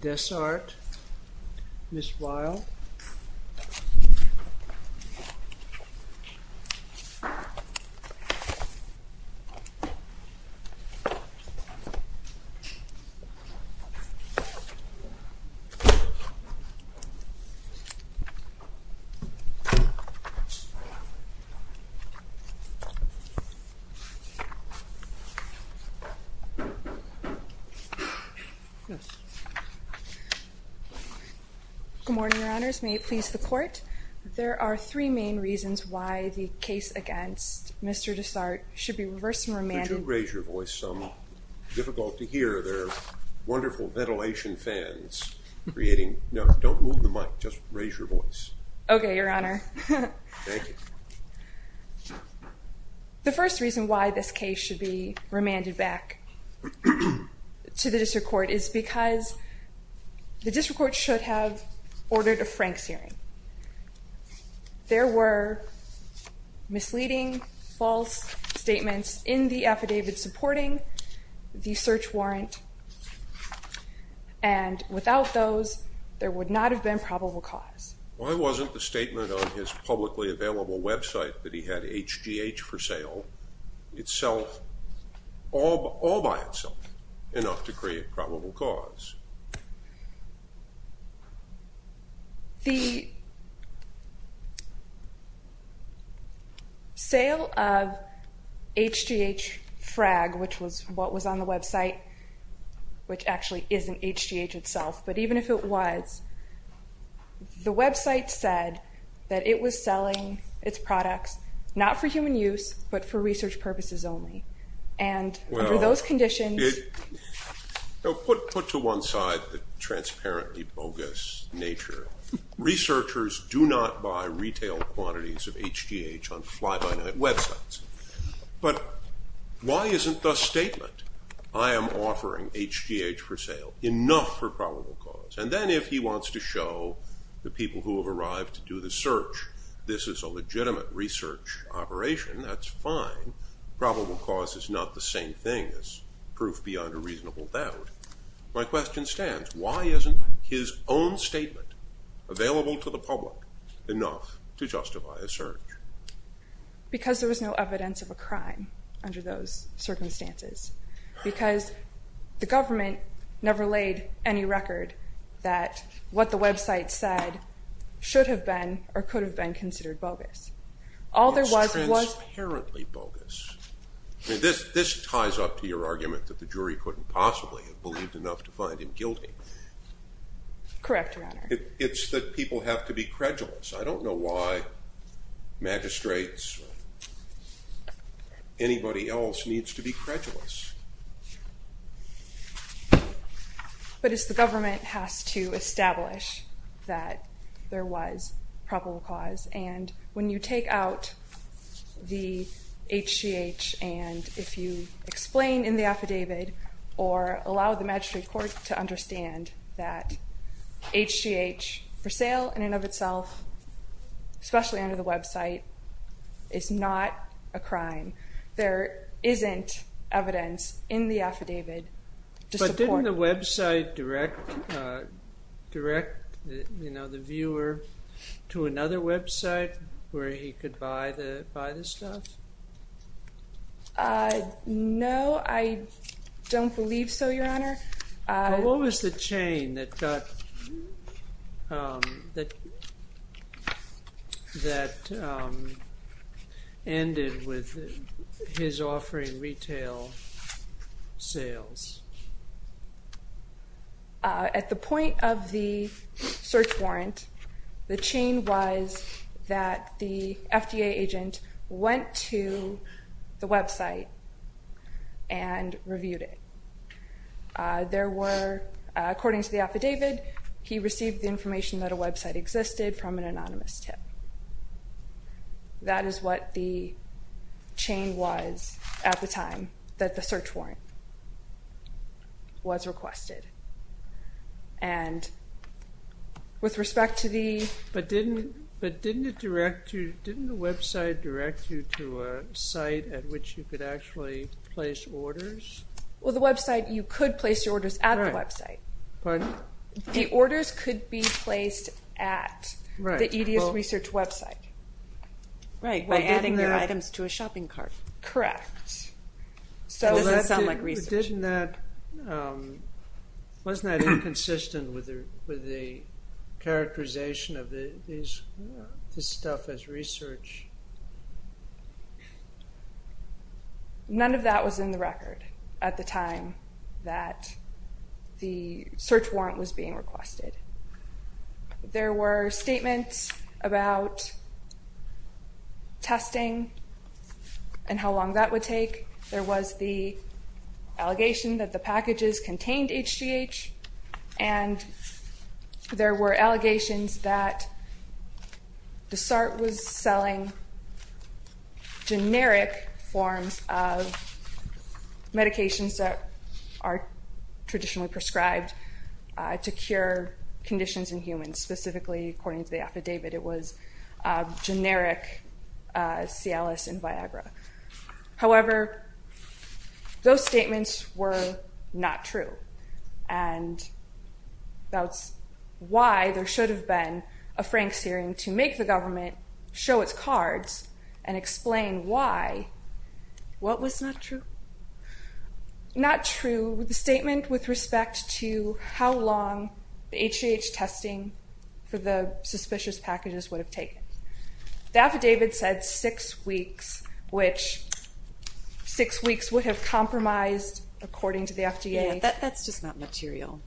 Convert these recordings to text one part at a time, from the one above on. Dessart, Ms. Weill Good morning, your honors. May it please the court. There are three main reasons why the case against Mr. Dessart should be reversed and remanded. Could you raise your voice some? Difficult to hear. There are wonderful ventilation fans creating. No, don't move the mic. Just raise your voice. Okay, your honor. Thank you. The first reason why this case should be remanded back to the district court is because the district court should have ordered a Frank's hearing. There were misleading, false statements in the affidavit supporting the search warrant, and without those, there would not have been probable cause. Why wasn't the statement on his publicly available website that he had HGH for sale itself, all by itself, enough to create probable cause? The sale of HGH FRAG, which was what was on the website, which actually isn't HGH itself, but even if it was, the website said that it was selling its products not for human use, but for research purposes only, and under those conditions... Put to one side the transparently bogus nature. Researchers do not buy retail quantities of HGH on fly-by-night websites, but why isn't the statement, I am offering HGH for sale, enough for probable cause? And then if he wants to show the people who have arrived to do the search, this is a legitimate research operation, that's fine. Probable cause is not the same thing as proof beyond a reasonable doubt. My question stands. Why isn't his own statement, available to the public, enough to justify a search? Because there was no evidence of a crime under those circumstances. Because the government never laid any record that what the website said should have been or could have been considered bogus. All there was was... It's transparently bogus. This ties up to your argument that the jury couldn't possibly have believed enough to find him guilty. Correct, Your Honor. It's that people have to be credulous. I don't know why magistrates or anybody else needs to be credulous. But it's the government has to establish that there was probable cause. And when you take out the HGH and if you explain in the affidavit or allow the magistrate court to understand that HGH for sale in and of itself, especially under the website, is not a crime. There isn't evidence in the affidavit to support... But didn't the website direct the viewer to another website where he could buy the stuff? No, I don't believe so, Your Honor. What was the chain that ended with his offering retail sales? At the point of the search warrant, the chain was that the FDA agent went to the website and reviewed it. According to the affidavit, he received the information that a website existed from an anonymous tip. That is what the chain was at the time that the search warrant was requested. But didn't the website direct you to a site at which you could actually place orders? Well, the website, you could place your orders at the website. Pardon? The orders could be placed at the EDS research website. Right, by adding their items to a shopping cart. Correct. So does that sound like research? Wasn't that inconsistent with the characterization of this stuff as research? None of that was in the record at the time that the search warrant was being requested. There were statements about testing and how long that would take. There was the allegation that the packages contained HGH. And there were allegations that DSART was selling generic forms of medications that are traditionally prescribed to cure conditions in humans. Specifically, according to the affidavit, it was generic Cialis and Viagra. However, those statements were not true. And that's why there should have been a Franks hearing to make the government show its cards and explain why what was not true. Not true, the statement with respect to how long the HGH testing for the suspicious packages would have taken. The affidavit said six weeks, which six weeks would have compromised, according to the FDA. Yeah, that's just not material.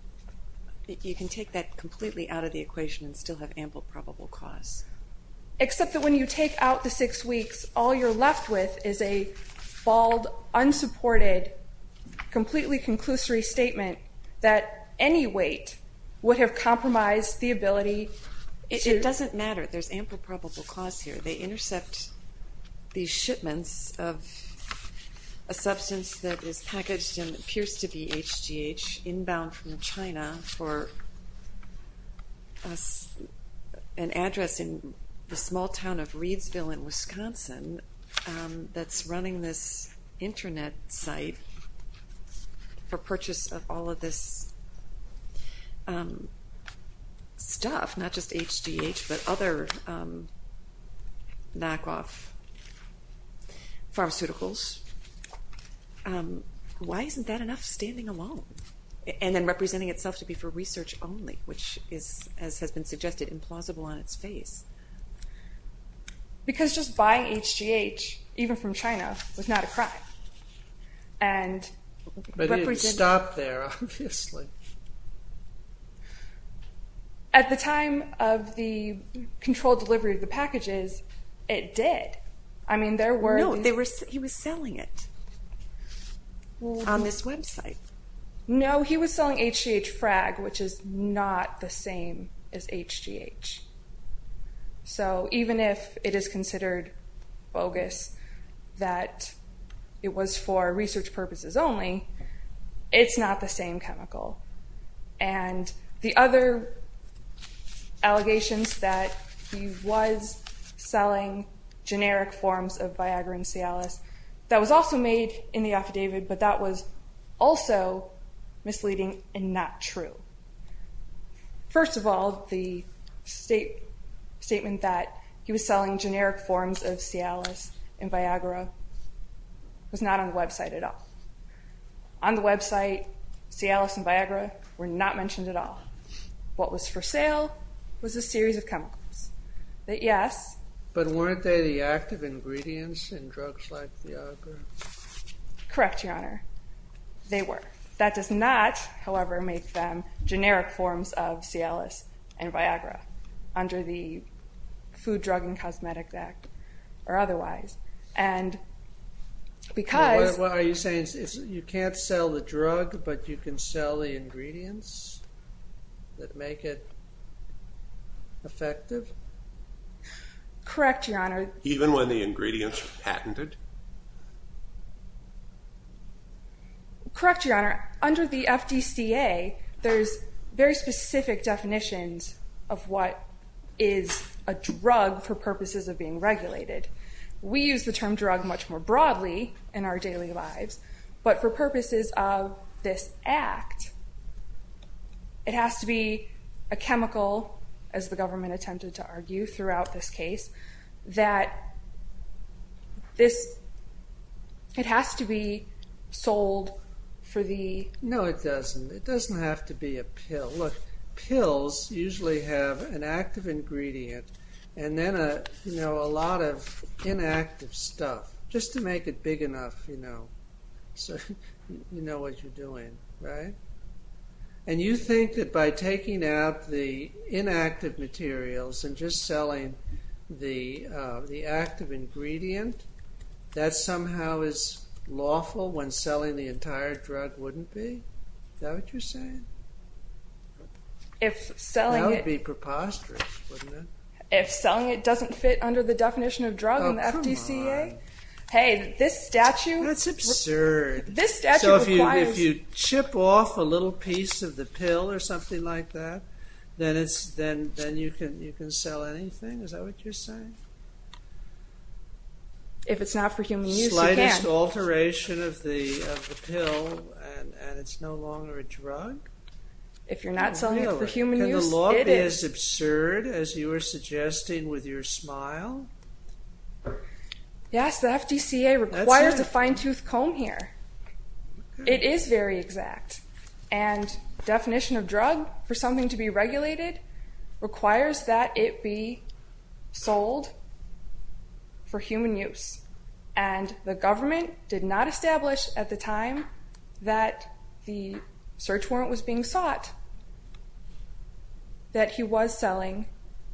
You can take that completely out of the equation and still have ample probable cause. Except that when you take out the six weeks, all you're left with is a bald, unsupported, completely conclusory statement that any wait would have compromised the ability to... It doesn't matter. There's ample probable cause here. They intercept these shipments of a substance that is packaged and appears to be HGH inbound from China for an address in the small town of Reidsville in Wisconsin that's running this internet site for purchase of all of this stuff, not just HGH, but other knockoff pharmaceuticals. Why isn't that enough standing alone? And then representing itself to be for research only, which is, as has been suggested, implausible on its face. Because just buying HGH, even from China, was not a crime. But it didn't stop there, obviously. At the time of the controlled delivery of the packages, it did. No, he was selling it on this website. No, he was selling HGH frag, which is not the same as HGH. So even if it is considered bogus that it was for research purposes only, it's not the same chemical. And the other allegations that he was selling generic forms of Viagra and Cialis, that was also made in the affidavit, but that was also misleading and not true. First of all, the statement that he was selling generic forms of Cialis and Viagra was not on the website at all. On the website, Cialis and Viagra were not mentioned at all. What was for sale was a series of chemicals. But weren't they the active ingredients in drugs like Viagra? Correct, Your Honor. They were. That does not, however, make them generic forms of Cialis and Viagra under the Food, Drug, and Cosmetic Act or otherwise. What are you saying? You can't sell the drug, but you can sell the ingredients that make it effective? Correct, Your Honor. Even when the ingredients are patented? Correct, Your Honor. Under the FDCA, there's very specific definitions of what is a drug for purposes of being regulated. We use the term drug much more broadly in our daily lives. But for purposes of this act, it has to be a chemical, as the government attempted to argue throughout this case, that it has to be sold for the... No, it doesn't. It doesn't have to be a pill. Look, pills usually have an active ingredient and then a lot of inactive stuff, just to make it big enough, you know, so you know what you're doing, right? And you think that by taking out the inactive materials and just selling the active ingredient, that somehow is lawful when selling the entire drug, wouldn't be? Is that what you're saying? That would be preposterous, wouldn't it? If selling it doesn't fit under the definition of drug in the FDCA... Oh, come on. Hey, this statute... That's absurd. This statute requires... So if you chip off a little piece of the pill or something like that, then you can sell anything? Is that what you're saying? If it's not for human use, you can. The slightest alteration of the pill and it's no longer a drug? If you're not selling it for human use, it is. Can the law be as absurd as you are suggesting with your smile? Yes, the FDCA requires a fine-tooth comb here. It is very exact. And the definition of drug for something to be regulated requires that it be sold for human use. And the government did not establish at the time that the search warrant was being sought that he was selling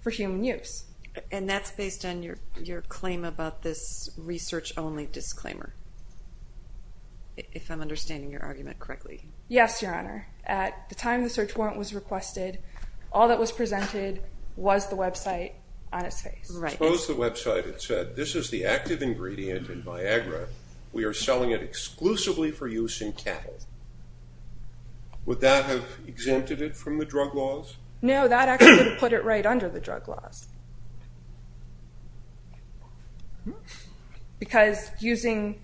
for human use. And that's based on your claim about this research-only disclaimer, if I'm understanding your argument correctly. Yes, Your Honor. At the time the search warrant was requested, all that was presented was the website on its face. Suppose the website had said, this is the active ingredient in Viagra. We are selling it exclusively for use in cattle. Would that have exempted it from the drug laws? No, that actually would have put it right under the drug laws. Because using...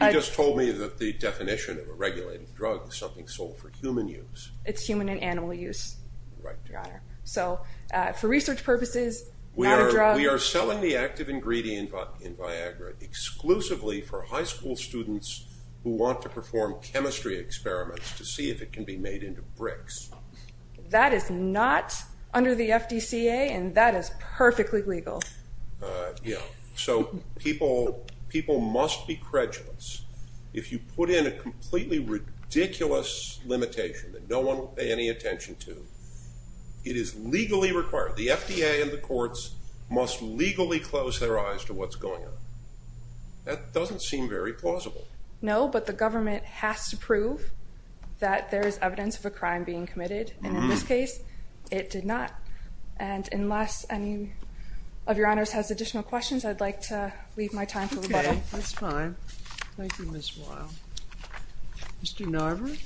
You just told me that the definition of a regulated drug is something sold for human use. It's human and animal use, Your Honor. So, for research purposes, not a drug. We are selling the active ingredient in Viagra exclusively for high school students who want to perform chemistry experiments to see if it can be made into bricks. That is not under the FDCA, and that is perfectly legal. Yeah, so people must be credulous. If you put in a completely ridiculous limitation that no one will pay any attention to, it is legally required. The FDA and the courts must legally close their eyes to what's going on. That doesn't seem very plausible. No, but the government has to prove that there is evidence of a crime being committed. And in this case, it did not. And unless any of Your Honors has additional questions, I'd like to leave my time for rebuttal. Okay, that's fine. Thank you, Ms. Royal. Mr. Narver?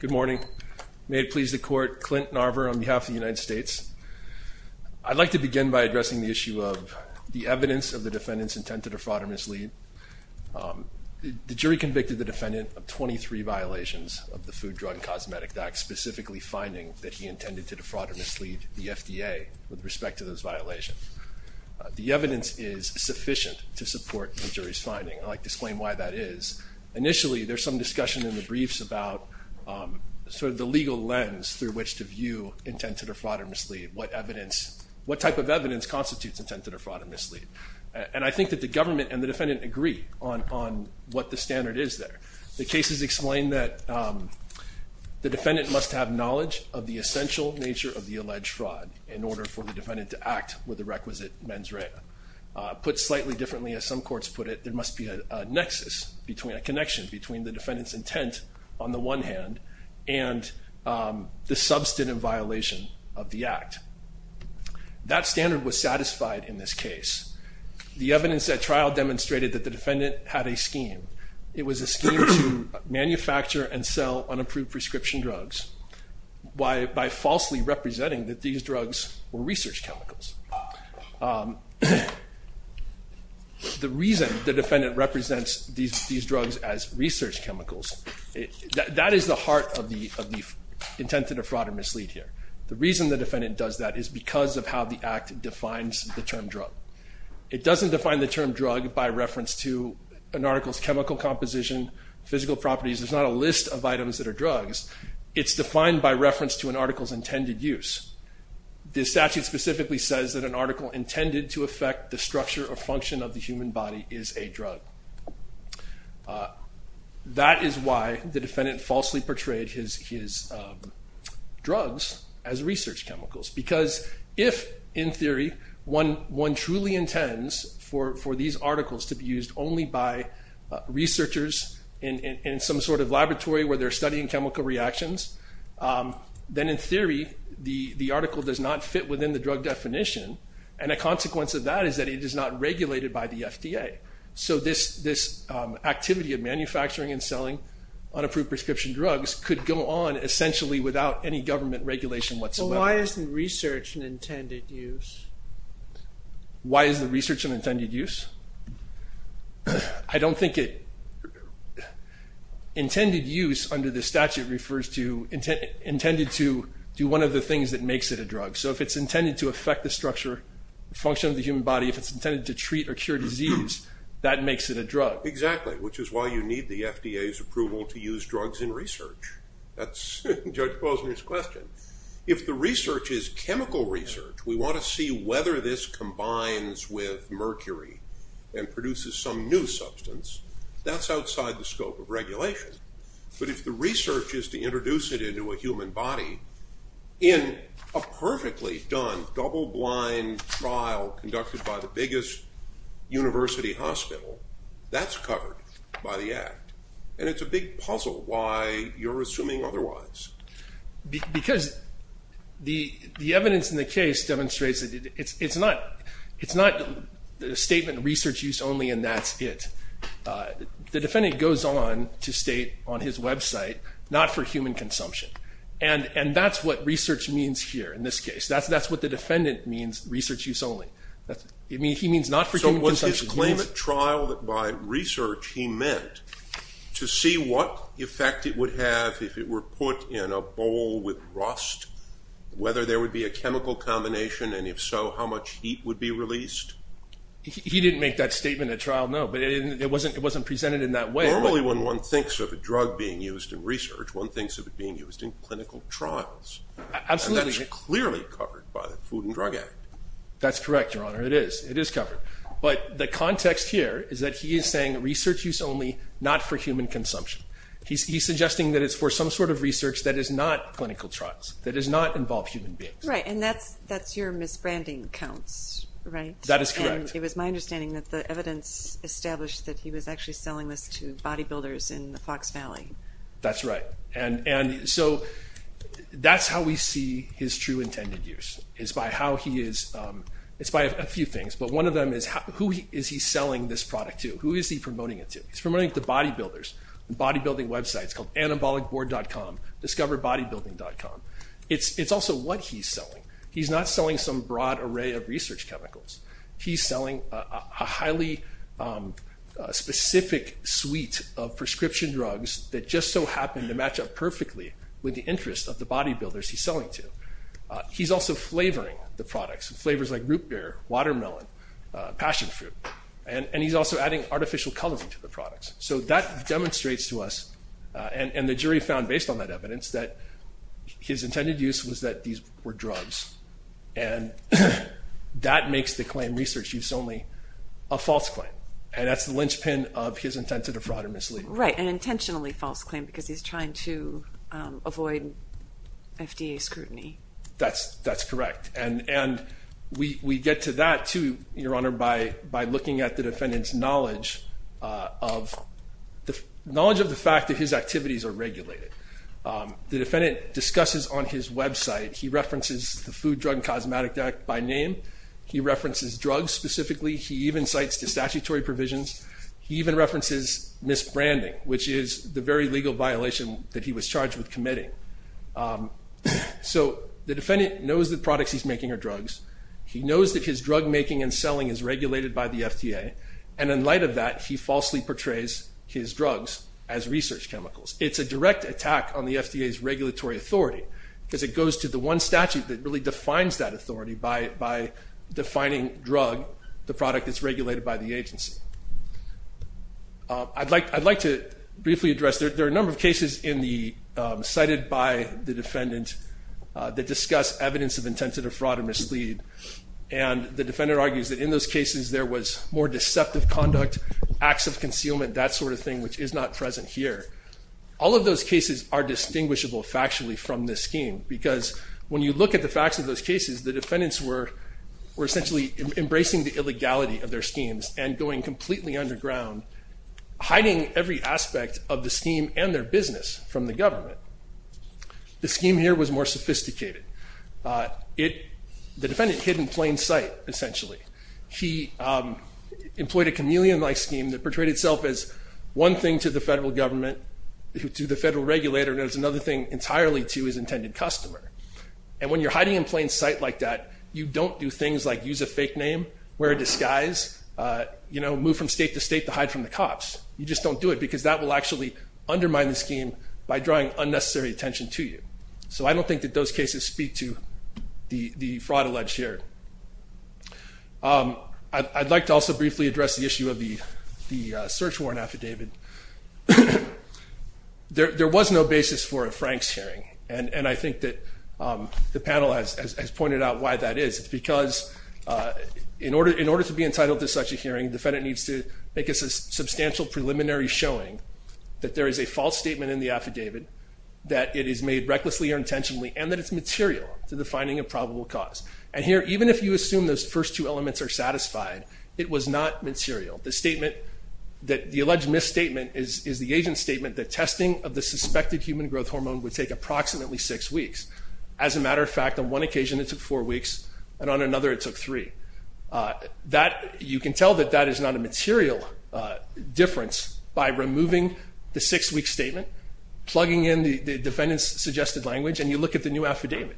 Good morning. May it please the Court, Clint Narver on behalf of the United States. I'd like to begin by addressing the issue of the evidence of the defendant's intent to defraud or mislead. The jury convicted the defendant of 23 violations of the Food, Drug, and Cosmetic Act, specifically finding that he intended to defraud or mislead the FDA with respect to those violations. The evidence is sufficient to support the jury's finding. I'd like to explain why that is. Initially, there's some discussion in the briefs about sort of the legal lens through which to view intent to defraud or mislead, what type of evidence constitutes intent to defraud or mislead. And I think that the government and the defendant agree on what the standard is there. The cases explain that the defendant must have knowledge of the essential nature of the alleged fraud in order for the defendant to act with the requisite mens rea. Put slightly differently, as some courts put it, there must be a nexus, a connection between the defendant's intent on the one hand and the substantive violation of the act. That standard was satisfied in this case. The evidence at trial demonstrated that the defendant had a scheme. It was a scheme to manufacture and sell unapproved prescription drugs by falsely representing that these drugs were research chemicals. The reason the defendant represents these drugs as research chemicals, that is the heart of the intent to defraud or mislead here. The reason the defendant does that is because of how the act defines the term drug. It doesn't define the term drug by reference to an article's chemical composition, physical properties. There's not a list of items that are drugs. It's defined by reference to an article's intended use. The statute specifically says that an article intended to affect the structure or function of the human body is a drug. That is why the defendant falsely portrayed his drugs as research chemicals. Because if, in theory, one truly intends for these articles to be used only by researchers in some sort of laboratory where they're studying chemical reactions, then, in theory, the article does not fit within the drug definition. A consequence of that is that it is not regulated by the FDA. This activity of manufacturing and selling unapproved prescription drugs could go on essentially without any government regulation whatsoever. Why isn't research an intended use? Why isn't research an intended use? I don't think it... Intended use, under the statute, refers to... intended to do one of the things that makes it a drug. So if it's intended to affect the structure or function of the human body, if it's intended to treat or cure disease, that makes it a drug. Exactly, which is why you need the FDA's approval to use drugs in research. That's Judge Paul's next question. If the research is chemical research, we want to see whether this combines with mercury and produces some new substance. That's outside the scope of regulation. But if the research is to introduce it into a human body, in a perfectly done double-blind trial conducted by the biggest university hospital, that's covered by the Act. And it's a big puzzle why you're assuming otherwise. Because the evidence in the case demonstrates that it's not a statement, research use only and that's it. The defendant goes on to state on his website, not for human consumption. And that's what research means here in this case. That's what the defendant means, research use only. He means not for human consumption. So it was his claim at trial that by research he meant to see what effect it would have if it were put in a bowl with rust, whether there would be a chemical combination, and if so, how much heat would be released. He didn't make that statement at trial, no. But it wasn't presented in that way. Normally when one thinks of a drug being used in research, one thinks of it being used in clinical trials. Absolutely. And that's clearly covered by the Food and Drug Act. That's correct, Your Honor, it is. It is covered. But the context here is that he is saying research use only, not for human consumption. He's suggesting that it's for some sort of research that is not clinical trials, that does not involve human beings. Right, and that's your misbranding counts, right? That is correct. And it was my understanding that the evidence established that he was actually selling this to bodybuilders in the Fox Valley. That's right. And so that's how we see his true intended use, is by how he is – it's by a few things. But one of them is who is he selling this product to? Who is he promoting it to? He's promoting it to bodybuilders. The bodybuilding website is called anabolicboard.com, discoverbodybuilding.com. It's also what he's selling. He's not selling some broad array of research chemicals. He's selling a highly specific suite of prescription drugs that just so happen to match up perfectly with the interests of the bodybuilders he's selling to. He's also flavoring the products, flavors like root beer, watermelon, passion fruit. And he's also adding artificial colors to the products. So that demonstrates to us, and the jury found based on that evidence, that his intended use was that these were drugs. And that makes the claim, research use only, a false claim. And that's the linchpin of his intent to defraud or mislead. Right, an intentionally false claim because he's trying to avoid FDA scrutiny. That's correct. And we get to that, too, Your Honor, by looking at the defendant's knowledge of the fact that his activities are regulated. The defendant discusses on his website, he references the Food, Drug, and Cosmetic Act by name. He references drugs specifically. He even cites the statutory provisions. He even references misbranding, which is the very legal violation that he was charged with committing. So the defendant knows the products he's making are drugs. He knows that his drug making and selling is regulated by the FDA. And in light of that, he falsely portrays his drugs as research chemicals. It's a direct attack on the FDA's regulatory authority because it goes to the one statute that really defines that authority by defining drug, the product that's regulated by the agency. I'd like to briefly address, there are a number of cases cited by the defendant that discuss evidence of intent of fraud or mislead. And the defendant argues that in those cases there was more deceptive conduct, acts of concealment, that sort of thing, which is not present here. All of those cases are distinguishable factually from this scheme because when you look at the facts of those cases, the defendants were essentially embracing the illegality of their schemes and going completely underground, hiding every aspect of the scheme and their business from the government. The scheme here was more sophisticated. The defendant hid in plain sight, essentially. He employed a chameleon-like scheme that portrayed itself as one thing to the federal government, to the federal regulator, and it was another thing entirely to his intended customer. And when you're hiding in plain sight like that, you don't do things like use a fake name, wear a disguise, move from state to state to hide from the cops. You just don't do it because that will actually undermine the scheme by drawing unnecessary attention to you. So I don't think that those cases speak to the fraud alleged here. I'd like to also briefly address the issue of the search warrant affidavit. There was no basis for a Franks hearing, and I think that the panel has pointed out why that is. It's because in order to be entitled to such a hearing, the defendant needs to make a substantial preliminary showing that there is a false statement in the affidavit, that it is made recklessly or intentionally, and that it's material to the finding of probable cause. And here, even if you assume those first two elements are satisfied, it was not material. The alleged misstatement is the agent's statement that testing of the suspected human growth hormone would take approximately six weeks. As a matter of fact, on one occasion it took four weeks, and on another it took three. You can tell that that is not a material difference by removing the six-week statement, plugging in the defendant's suggested language, and you look at the new affidavit.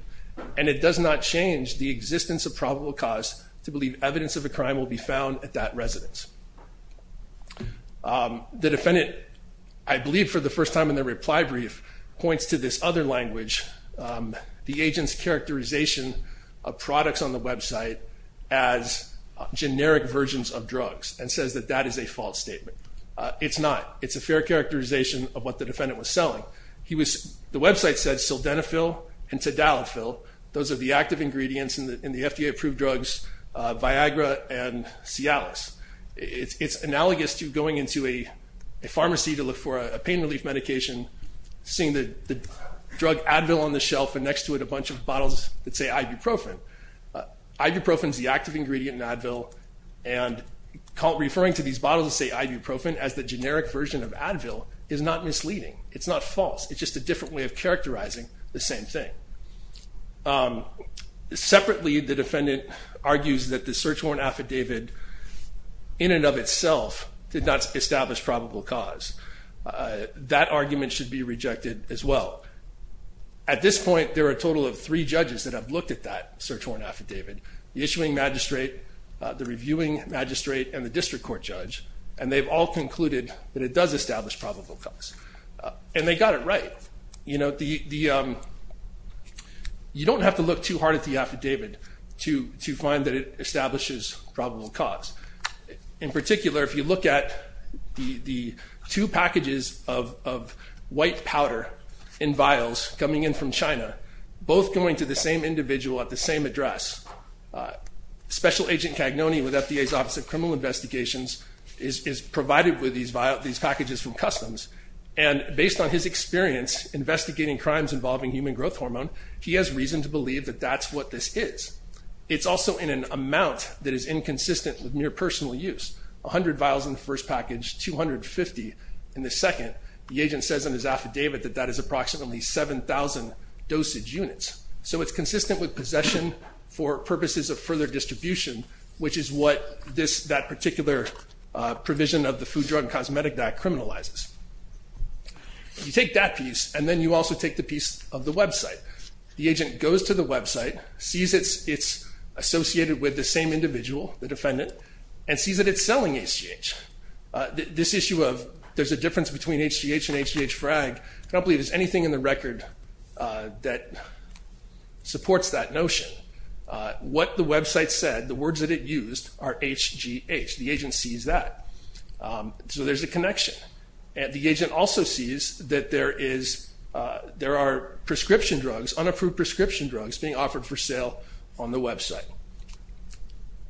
And it does not change the existence of probable cause to believe evidence of a crime will be found at that residence. The defendant, I believe for the first time in their reply brief, points to this other language, the agent's characterization of products on the website as generic versions of drugs, and says that that is a false statement. It's not. It's a fair characterization of what the defendant was selling. The website said Sildenafil and Tadalafil. Those are the active ingredients in the FDA-approved drugs Viagra and Cialis. It's analogous to going into a pharmacy to look for a pain relief medication, seeing the drug Advil on the shelf, and next to it a bunch of bottles that say ibuprofen. Ibuprofen is the active ingredient in Advil, and referring to these bottles that say ibuprofen as the generic version of Advil is not misleading. It's not false. It's just a different way of characterizing the same thing. Separately, the defendant argues that the search warrant affidavit in and of itself did not establish probable cause. That argument should be rejected as well. At this point, there are a total of three judges that have looked at that search warrant affidavit, the issuing magistrate, the reviewing magistrate, and the district court judge, and they've all concluded that it does establish probable cause. And they got it right. You know, you don't have to look too hard at the affidavit to find that it establishes probable cause. In particular, if you look at the two packages of white powder in vials coming in from China, both going to the same individual at the same address, Special Agent Cagnone with FDA's Office of Criminal Investigations is provided with these packages from Customs, and based on his experience investigating crimes involving human growth hormone, he has reason to believe that that's what this is. It's also in an amount that is inconsistent with mere personal use. A hundred vials in the first package, 250 in the second. The agent says in his affidavit that that is approximately 7,000 dosage units. So it's consistent with possession for purposes of further distribution, which is what that particular provision of the Food, Drug, and Cosmetic Act criminalizes. You take that piece, and then you also take the piece of the website. The agent goes to the website, sees it's associated with the same individual, the defendant, and sees that it's selling HGH. This issue of there's a difference between HGH and HGH FRAG, I don't believe there's anything in the record that supports that notion. What the website said, the words that it used, are HGH. The agent sees that. So there's a connection. The agent also sees that there are prescription drugs, unapproved prescription drugs, being offered for sale on the website.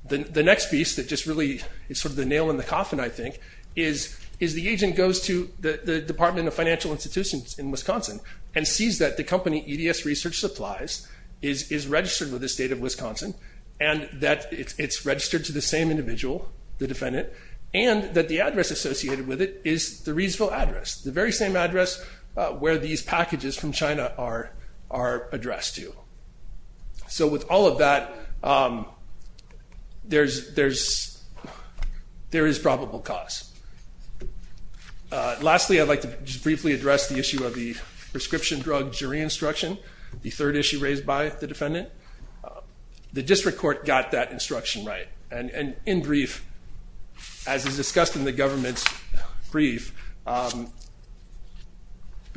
The next piece that just really is sort of the nail in the coffin, I think, is the agent goes to the Department of Financial Institutions in Wisconsin and sees that the company, EDS Research Supplies, is registered with the state of Wisconsin, and that it's registered to the same individual, the defendant, and that the address associated with it is the Reedsville address, the very same address where these packages from China are addressed to. So with all of that, there is probable cause. Lastly, I'd like to just briefly address the issue of the prescription drug jury instruction, the third issue raised by the defendant. The district court got that instruction right. And in brief, as is discussed in the government's brief, the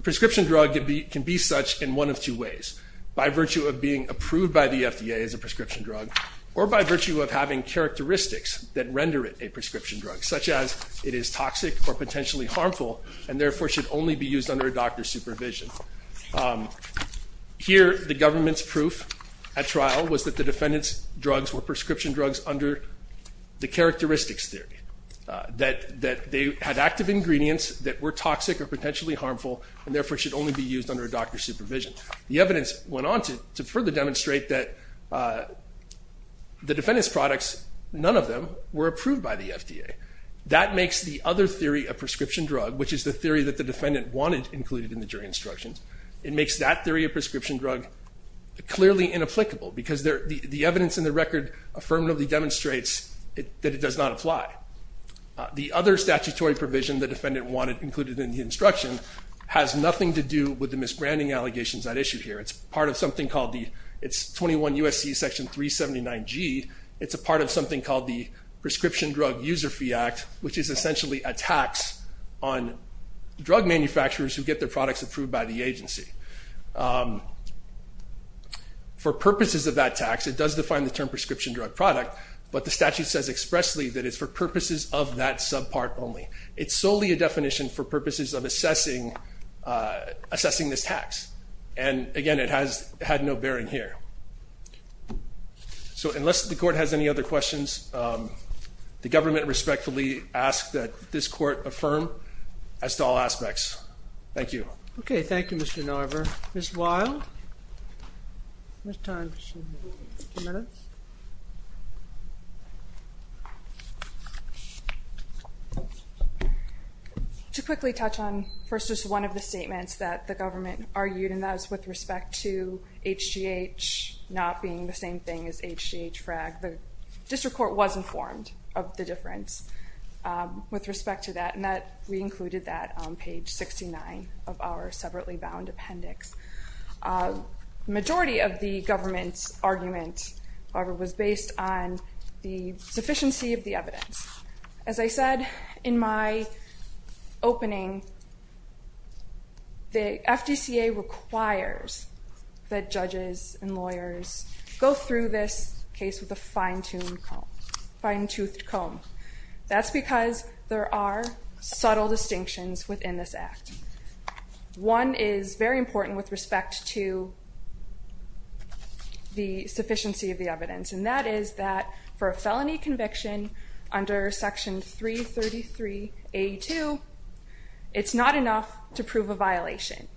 prescription drug can be such in one of two ways, by virtue of being approved by the FDA as a prescription drug or by virtue of having characteristics that render it a prescription drug, such as it is toxic or potentially harmful and therefore should only be used under a doctor's supervision. The evidence went on to further demonstrate that the defendant's products, none of them, were approved by the FDA. That makes the other theory of prescription drug, which is the theory that the defendant wanted included in the jury instructions, it makes that theory of prescription drug clearly inapplicable and therefore should only be used under a doctor's supervision. The other statutory provision the defendant wanted included in the instruction has nothing to do with the misbranding allegations at issue here. It's part of something called the 21 U.S.C. Section 379G. It's a part of something called the Prescription Drug User Fee Act, which is essentially a tax on drug manufacturers who get their products approved by the agency. and it does define the term prescription drug. But the statute says expressly that it's for purposes of that subpart only. It's solely a definition for purposes of assessing this tax. And again, it has had no bearing here. So unless the court has any other questions, the government respectfully asks that this court affirm as to all aspects. Thank you. Okay, thank you, Mr. Narver. Ms. Wild? How much time does she have? Two minutes? To quickly touch on, first, just one of the statements that the government argued, and that was with respect to HGH not being the same thing as HGH-FRAG. The district court was informed of the difference with respect to that, and we included that on page 69 of our separately bound appendix. The majority of the government's argument, however, was based on the sufficiency of the evidence. As I said in my opening, the FDCA requires that judges and lawyers be informed of the difference. That's because there are subtle distinctions within this act. One is very important with respect to the sufficiency of the evidence, and that is that for a felony conviction under Section 333A2, it's not enough to prove a violation.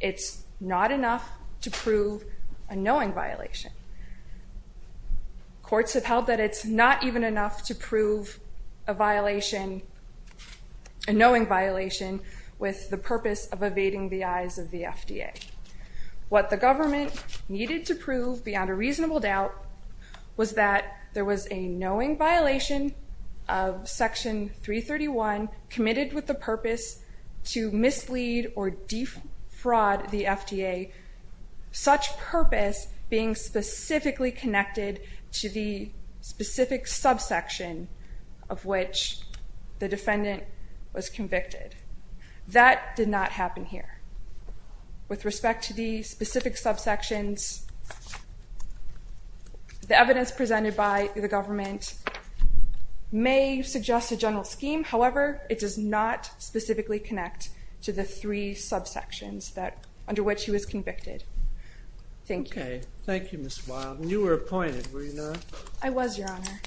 It's not enough to prove a knowing violation. Courts have held that it's not even enough to prove a violation, a knowing violation, with the purpose of evading the eyes of the FDA. What the government needed to prove, beyond a reasonable doubt, was that there was a knowing violation of Section 331 committed with the purpose to mislead or defraud the FDA, such purpose being specifically connected to the specific subsection of which the defendant was convicted. That did not happen here. With respect to the specific subsections, the evidence presented by the government may suggest a general scheme. However, it does not specifically connect to the three subsections under which he was convicted. Thank you. Thank you, Ms. Wildman. You were appointed, were you not? I was, Your Honor.